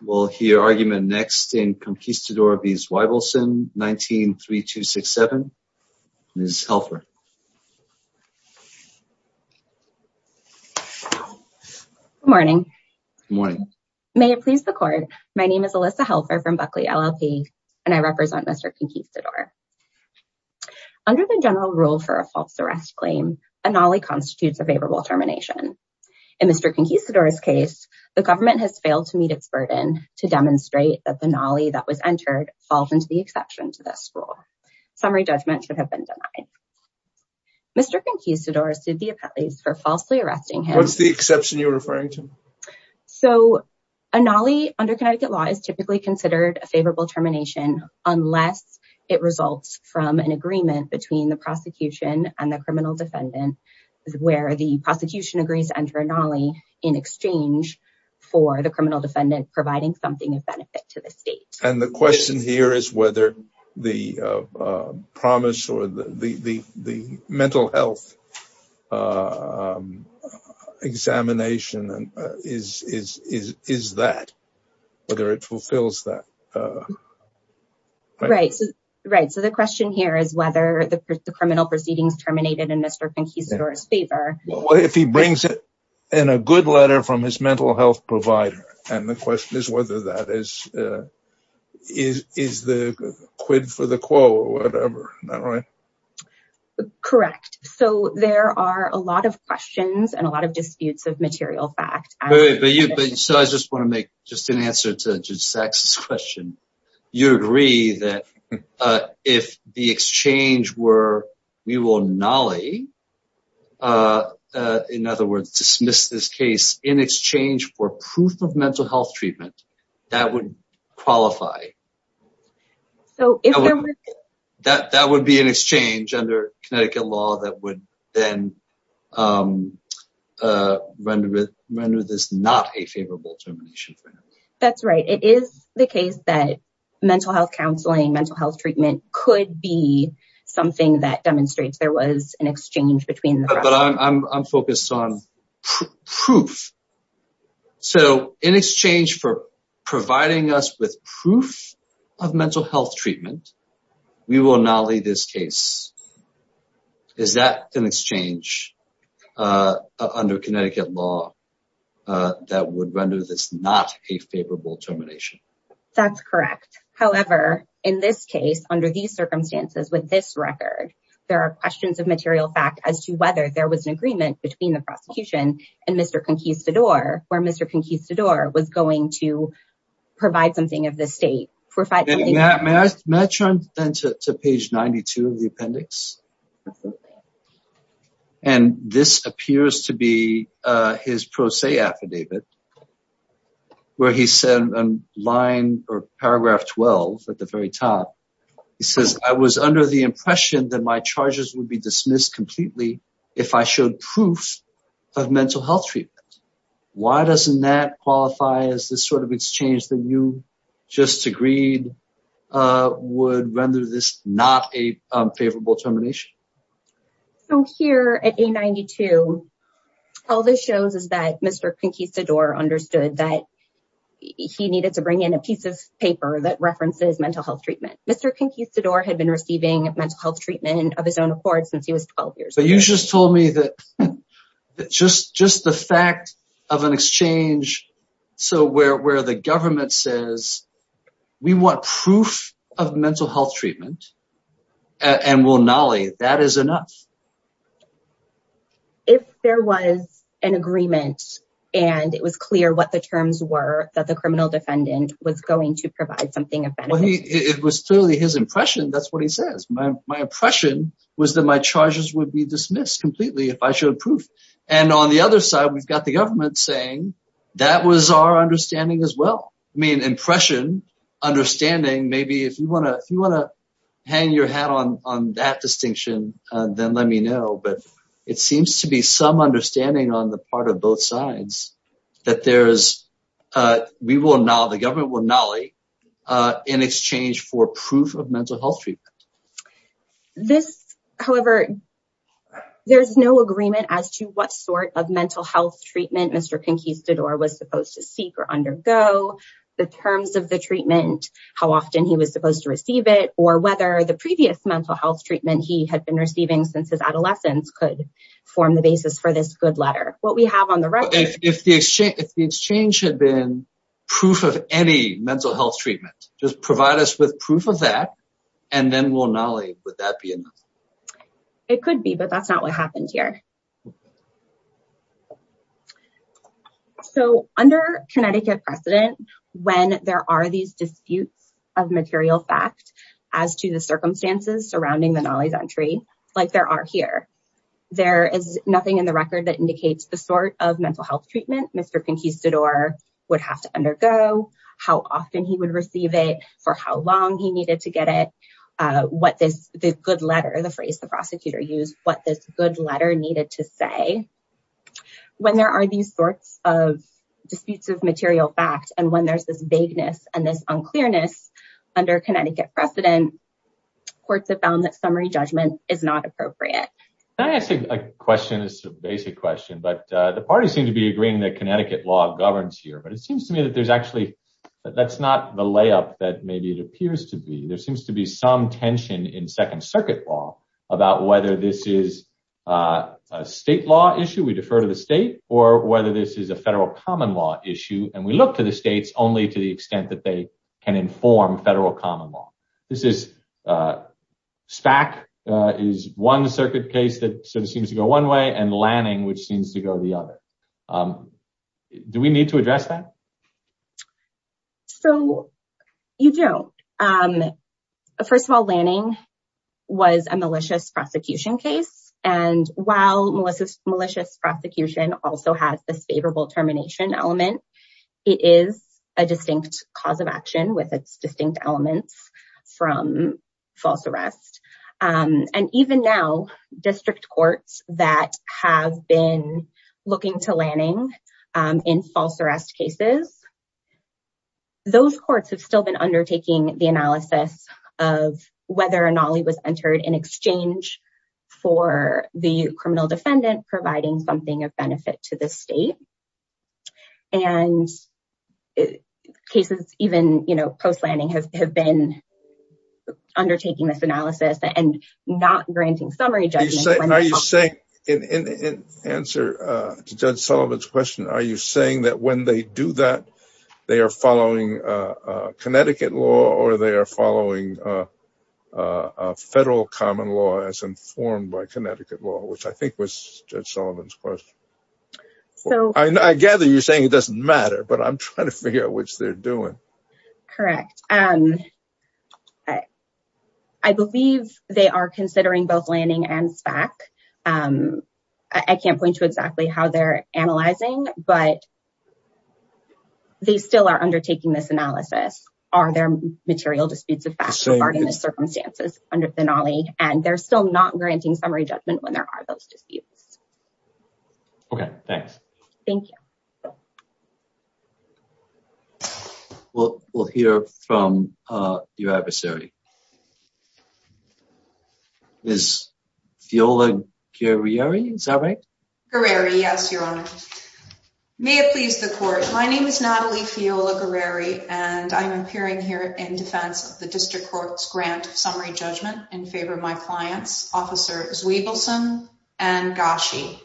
We'll hear argument next in Conquistador v. Zweibelson, 19-3267. Ms. Helfer. Good morning. Good morning. May it please the court, my name is Alyssa Helfer from Buckley LLP and I represent Mr. Conquistador. Under the general rule for a false arrest claim, a nollie constitutes a favorable termination. In Mr. Conquistador's case, the government has met its burden to demonstrate that the nollie that was entered falls into the exception to this rule. Summary judgment should have been denied. Mr. Conquistador sued the appellees for falsely arresting him. What's the exception you're referring to? So a nollie under Connecticut law is typically considered a favorable termination unless it results from an agreement between the prosecution and the criminal defendant where the prosecution agrees to enter a nollie in exchange for the criminal defendant providing something of benefit to the state. And the question here is whether the promise or the mental health examination is that, whether it fulfills that. Right, so the question here is whether the criminal proceedings terminated in Mr. Conquistador in a good letter from his mental health provider and the question is whether that is is the quid for the quo or whatever, right? Correct, so there are a lot of questions and a lot of disputes of material fact. But you, but so I just want to make just an answer to Zach's question. You agree that if the exchange were we will nollie, in other words dismiss this case in exchange for proof of mental health treatment, that would qualify. So if that would be an exchange under Connecticut law that would then render this not a favorable termination for him. That's right, it is the case that mental health counseling, mental health treatment could be something that demonstrates there was an exchange between the two. But I'm focused on proof. So in exchange for providing us with under Connecticut law that would render this not a favorable termination. That's correct, however in this case under these circumstances with this record there are questions of material fact as to whether there was an agreement between the prosecution and Mr. Conquistador, where Mr. Conquistador was going to provide something of the state. May I turn then to page 92 of the appendix? And this appears to be his pro se affidavit, where he said in line or paragraph 12 at the very top, he says I was under the impression that my charges would be dismissed completely if I showed proof of mental health treatment. Why doesn't that qualify as this sort of exchange that you just agreed would render this not a favorable termination? So here at page 92, all this shows is that Mr. Conquistador understood that he needed to bring in a piece of paper that references mental health treatment. Mr. Conquistador had been receiving mental health treatment of his own accord since he was 12 years old. You just told me that just the fact of an exchange where the government says we want proof of mental health treatment and we'll nolly, that is enough. If there was an agreement and it was clear what the terms were that the criminal defendant was going to provide something of benefit. It was clearly his impression, that's what he says. My impression was that my charges would be dismissed completely if I showed proof. And on the other side, we've got the government saying that was our understanding as well. I mean, impression, understanding, maybe if you want to hang your hat on that distinction, then let me know. But it seems to be some understanding on the part of both sides that we will nolly, the government will nolly in exchange for proof of mental health treatment. This, however, there's no agreement as to what sort of mental health treatment Mr. Conquistador was supposed to seek or undergo, the terms of the treatment, how often he was supposed to receive it, or whether the previous mental health treatment he had been receiving since his adolescence could form the basis for this good letter. What we have on the record- If the exchange had been proof of any mental health treatment, just provide us with proof of and then we'll nolly, would that be enough? It could be, but that's not what happened here. So under Connecticut precedent, when there are these disputes of material fact as to the circumstances surrounding the nollies entry, like there are here, there is nothing in the record that indicates the sort of mental health treatment Mr. Conquistador would have to undergo, how often he would receive it, for how long he needed to get it, what this good letter, the phrase the prosecutor used, what this good letter needed to say. When there are these sorts of disputes of material fact and when there's this vagueness and this unclearness under Connecticut precedent, courts have found that summary judgment is not appropriate. Can I ask a question? It's a basic question, but the parties seem to be agreeing that Connecticut law governs here, but it seems to me that there's actually- that's not the layup that maybe it appears to be. There seems to be some tension in Second Circuit law about whether this is a state law issue, we defer to the state, or whether this is a federal common law issue and we look to the states only to the extent that they can inform federal common law. This is- SPAC is one circuit case that sort of seems to go one way and Lanning, which seems to go the other. Do we need to address that? So, you do. First of all, Lanning was a malicious prosecution case and while malicious prosecution also has this favorable termination element, it is a distinct cause of action with its distinct elements from false arrest. And even now, district courts that have been looking to Lanning in false arrest cases, those courts have still been undertaking the analysis of whether or not he was entered in exchange for the criminal defendant providing something of benefit to the state. And cases even, you know, post-Lanning have been undertaking this analysis and not granting summary judgment. Are you saying, in answer to Judge Sullivan's question, are you saying that when they do that they are following Connecticut law or they are not? I gather you're saying it doesn't matter, but I'm trying to figure out what they're doing. Correct. I believe they are considering both Lanning and SPAC. I can't point to exactly how they're analyzing, but they still are undertaking this analysis. Are there material disputes of facts regarding the circumstances under Finale? And they're still not granting summary judgment when there are those disputes. Okay, thanks. Thank you. We'll hear from your adversary. Ms. Fiola Guerreri, is that right? Guerreri, yes, Your Honor. May it please the court, my name is Natalie Fiola Guerreri and I'm appearing here in defense of the district court's grant of summary judgment in favor of my clients, Officer Zwiebelsen and Gashi.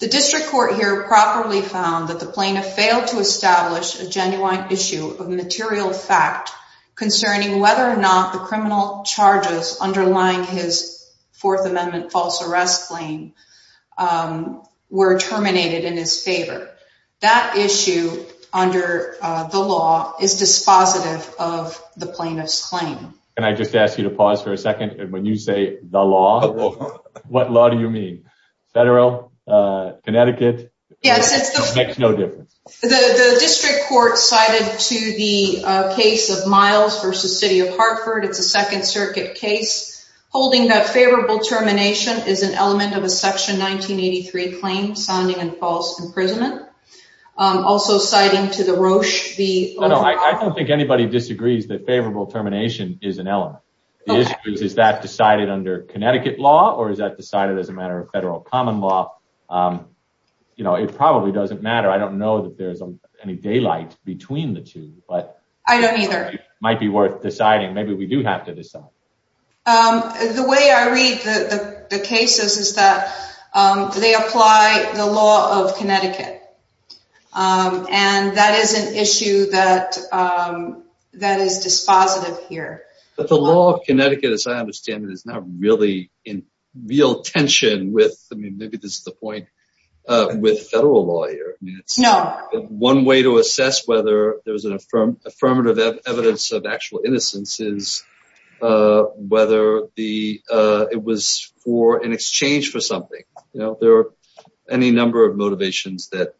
The district court here properly found that the plaintiff failed to establish a genuine issue of material fact concerning whether or not the criminal charges underlying his Fourth Amendment false arrest claim were terminated in his favor. That issue, under the law, is dispositive of the plaintiff's claim. Can I just ask you to pause for a second? And when you say the law, what law do you mean? Federal? Connecticut? Yes. It makes no difference. The district court cited to the case of Miles v. City of Hartford, it's a Second Circuit case, holding that favorable termination is an element of a Section 1983 claim, sounding in false imprisonment. Also citing to the Roche... I don't think anybody disagrees that favorable termination is an element. The issue is, is that decided under Connecticut law or is that decided as a matter of federal common law? You know, it probably doesn't matter. I don't know that there's any daylight between the two, but... I don't either. It might be worth deciding. Maybe we do have to decide. The way I read the cases is that they apply the law of Connecticut, and that is an issue that is dispositive here. But the law of Connecticut, as I understand it, is not really in real tension with... I mean, maybe this is the point with federal law here. No. One way to assess whether there's an affirmative evidence of actual innocence is whether it was for an exchange for something. You know, there are any number of motivations that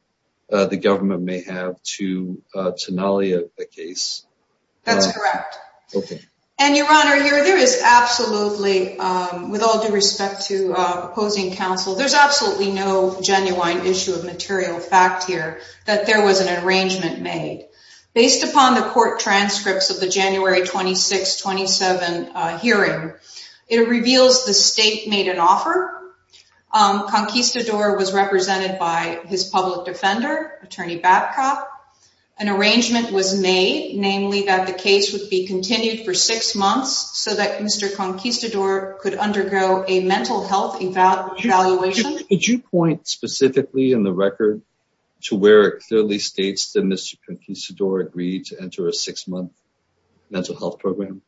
the government may have to nullify a case. That's correct. Okay. And your honor, here there is absolutely, with all due respect to opposing counsel, there's absolutely no genuine issue of material fact here that there was an arrangement made. Based upon the court transcripts of the January 26-27 hearing, it reveals the state made an offer. Conquistador was represented by his public defender, Attorney Babcock. An arrangement was made, namely that the case would be continued for six months so that Mr. Conquistador could undergo a mental health evaluation. Could you point specifically in the record to where it clearly states that Mr. Conquistador agreed to enter a six-month mental health program?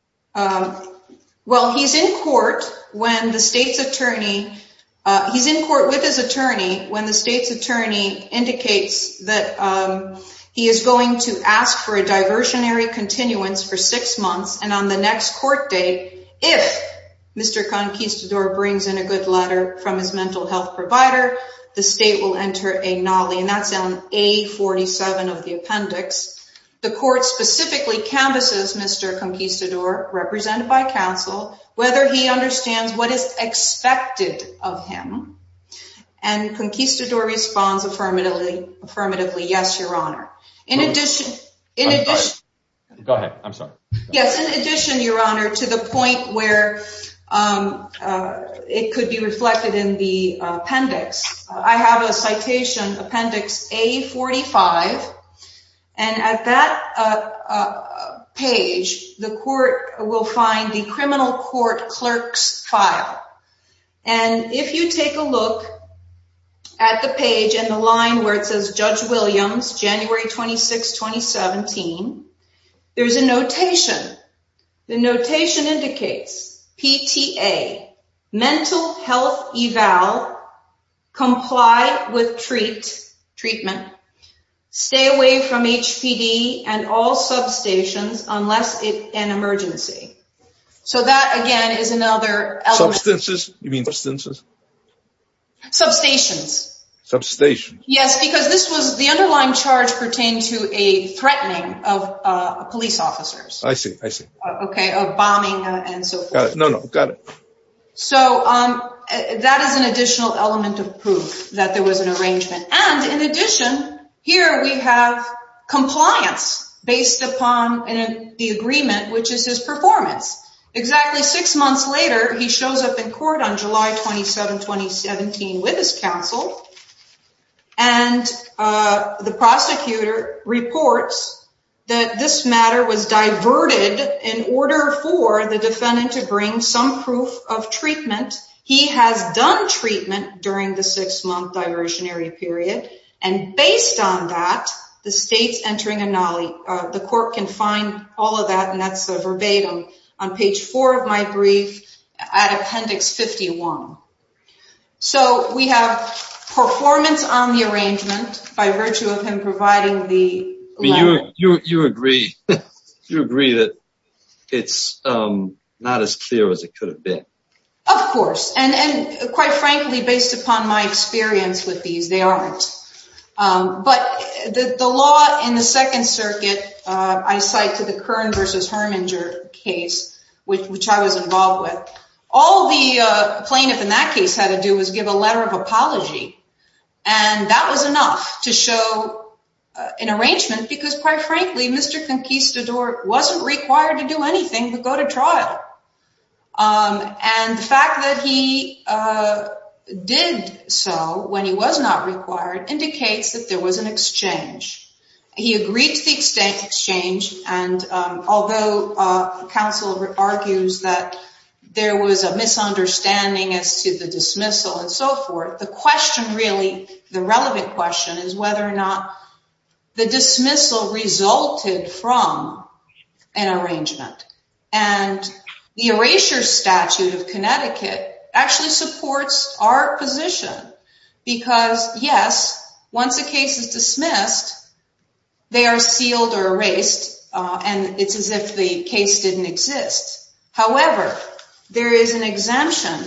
Well, he's in court when the state's attorney... He's in court with his attorney when the state's attorney indicates that he is going to ask for a diversionary continuance for six months, and on the next court date, if Mr. Conquistador brings in a good letter from his mental health provider, the state will enter a nollie, and that's on A-47 of the appendix. The court specifically canvasses Mr. Conquistador, represented by counsel, whether he understands what is expected of him, and Conquistador responds affirmatively, yes, your honor. In addition... Go ahead. I'm sorry. Yes, in addition, your honor, to the point where it could be reflected in the appendix, I have a citation, appendix A-45, and at that page, the court will find the criminal court clerk's file, and if you take a look at the page and the line where it says, Judge Williams, January 26, 2017, there's a notation. The notation indicates, PTA, mental health eval, comply with treat, treatment, stay away from HPD and all substations unless it's an emergency. So that, again, is another... Substances? You mean substances? Substations. Substations. Yes, because the underlying charge pertained to a threatening of police officers. I see, I see. Okay, of bombing and so forth. No, no, got it. So that is an additional element of proof that there was an arrangement, and in addition, here we have compliance based upon the agreement, which is his performance. Exactly six months later, he shows up in court on July 27, 2017, with his counsel, and the prosecutor reports that this matter was diverted in order for the defendant to bring some proof of treatment. He has done treatment during the six-month diversionary period, and based on that, the state's entering a... The court can find all of that, and that's the verbatim on page four of my brief at appendix 51. So we have performance on the arrangement by Of course, and quite frankly, based upon my experience with these, they aren't. But the law in the Second Circuit, I cite to the Kern versus Herminger case, which I was involved with, all the plaintiff in that case had to do was give a letter of apology, and that was enough to show an arrangement because, quite frankly, Mr. Conquistador wasn't required to do anything to go to trial. And the fact that he did so when he was not required indicates that there was an exchange. He agreed to the exchange, and although counsel argues that there was a misunderstanding as to the dismissal and so forth, the question really, the relevant question is whether or not the dismissal resulted from an arrangement. And the erasure statute of Connecticut actually supports our position because, yes, once a case is dismissed, they are sealed or erased, and it's as if the case didn't exist. However, there is an exemption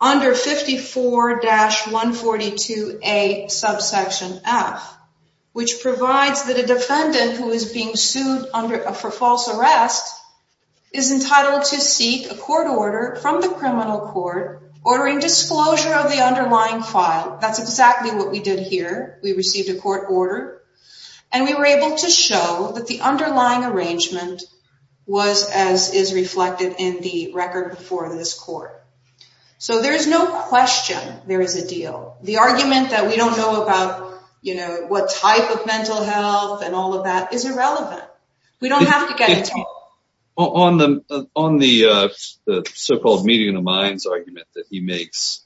under 54-142A subsection F, which provides that a defendant who is being sued for false arrest is entitled to seek a court order from the criminal court ordering disclosure of the underlying file. That's exactly what we did here. We received a court order, and we were able to show that the So there's no question there is a deal. The argument that we don't know about, you know, what type of mental health and all of that is irrelevant. We don't have to get into it. On the so-called median of minds argument that he makes,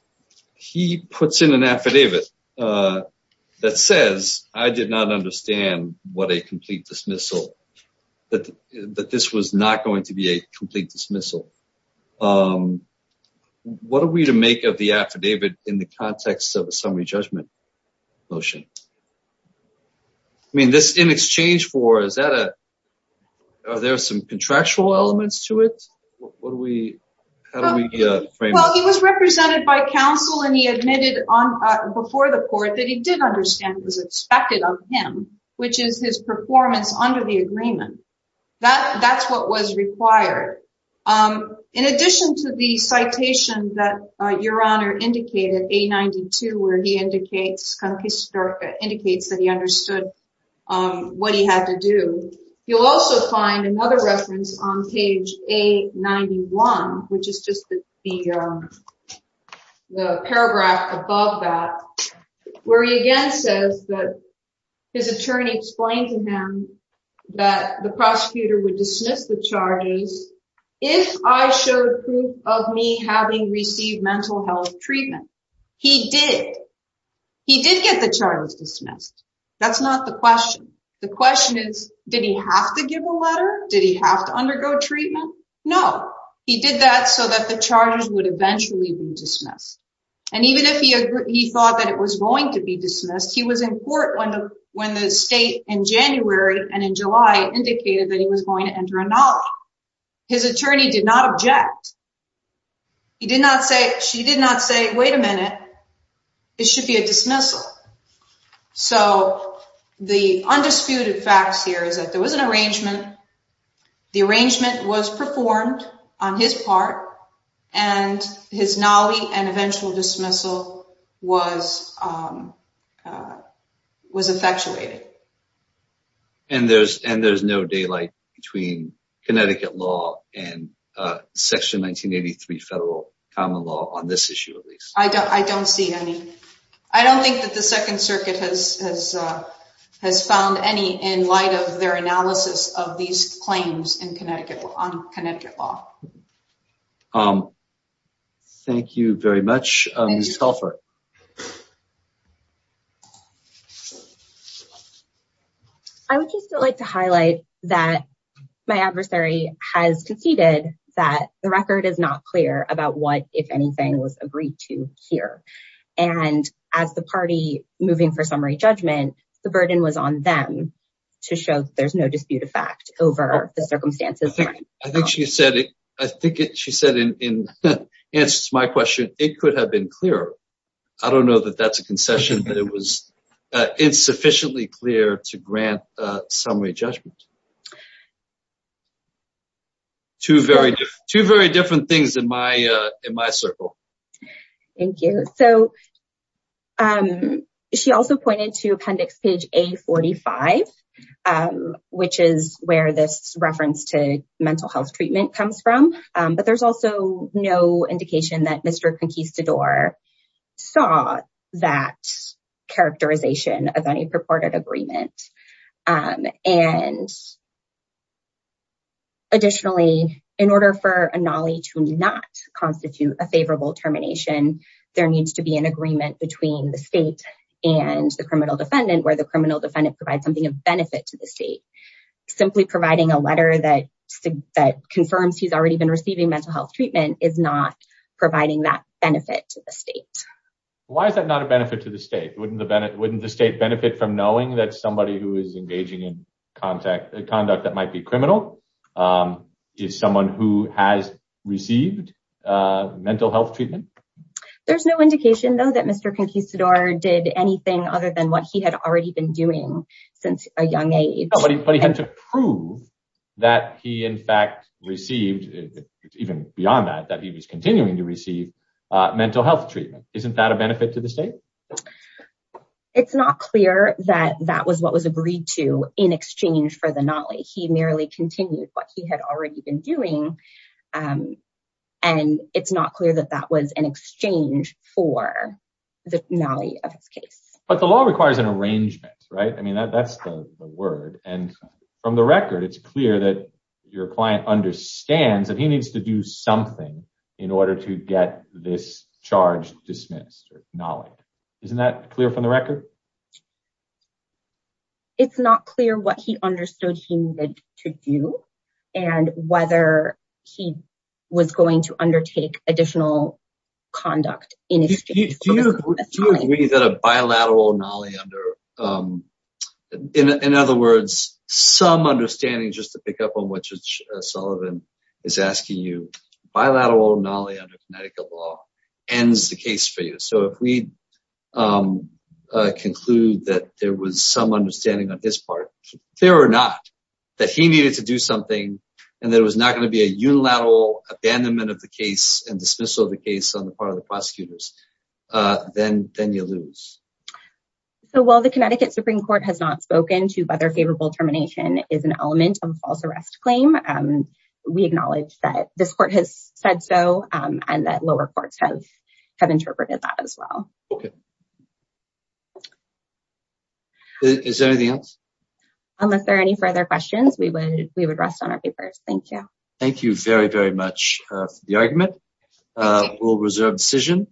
he puts in an affidavit that says, I did not understand what a complete dismissal, that this was not going to be a What are we to make of the affidavit in the context of a summary judgment motion? I mean, this in exchange for, is that a, are there some contractual elements to it? What do we, how do we frame it? Well, he was represented by counsel, and he admitted before the court that he didn't understand what was expected of him, which is his performance under the agreement. That's what was required. In addition to the citation that your honor indicated, A92, where he indicates that he understood what he had to do, you'll also find another reference on page A91, which is just the paragraph above that, where he again says that his attorney explained to him that the prosecutor would dismiss the having received mental health treatment. He did. He did get the charges dismissed. That's not the question. The question is, did he have to give a letter? Did he have to undergo treatment? No. He did that so that the charges would eventually be dismissed. And even if he thought that it was going to be dismissed, he was in court when the state in January and in July indicated that he was going to enter a knowledge. His attorney did not object. She did not say, wait a minute, it should be a dismissal. So the undisputed facts here is that there was an arrangement. The arrangement was performed on his part, and his knowledge and eventual dismissal was effectuated. And there's no daylight between Connecticut law and section 1983 federal common law on this issue, at least. I don't see any. I don't think that the Second Circuit has found any in light of their analysis of these claims on Connecticut law. Thank you very much. Ms. Helfer. I would just like to highlight that my adversary has conceded that the record is not clear about what, if anything, was agreed to here. And as the party moving for summary judgment, the burden was on them to show that there's no dispute of fact over the circumstances. I think she said it. I think she said in answer to my question, it could have been clearer. I don't know that that's a concession, but it was insufficiently clear to grant summary judgment. Two very different things in my circle. Thank you. So she also pointed to appendix page A45, which is where this reference to mental health treatment comes from. But there's also no indication that Mr. Conquistador saw that characterization of any purported agreement. And additionally, in order for a NOLI to not constitute a favorable termination, there needs to be an agreement between the state and the criminal defendant where the criminal defendant provides something of benefit to the state. Simply providing a letter that confirms he's already been receiving mental health treatment is not providing that benefit to the state. Why is that not a benefit to the state? Wouldn't the state benefit from knowing that somebody who is engaging in conduct that might be criminal is someone who has received mental health treatment? There's no indication, though, that Mr. Conquistador did anything other than what he had already been doing since a young age. But he had to prove that he in fact received, even beyond that, that he was continuing to receive mental health treatment. Isn't that a benefit to the state? It's not clear that that was what was agreed to in exchange for the NOLI. He merely continued what he had already been doing, and it's not clear that that was an exchange for the NOLI of his case. But the law requires an arrangement, right? I mean, that's the word. And from the record, it's clear that your client understands that he needs to do something in order to get this charge dismissed or NOLI'd. Isn't that clear from the record? It's not clear what he understood he needed to do and whether he was going to undertake additional conduct in exchange for the NOLI. Do you agree that a bilateral NOLI under, in other words, some understanding, just to pick up on what Judge Sullivan is asking you, bilateral NOLI under Connecticut law ends the case for you. So if we conclude that there was some understanding on his part, fear or not, that he needed to do something and there was not going to be a unilateral abandonment of the case and dismissal of the case on the part of the prosecutors, then you lose. So while the Connecticut Supreme Court has not spoken to whether favorable termination is an element of a false arrest claim, we acknowledge that this court has said so and that lower courts have interpreted that as well. Is there anything else? Unless there are any further questions, we would rest on our papers. Thank you. Thank you very, very much for the argument. We'll reserve decision.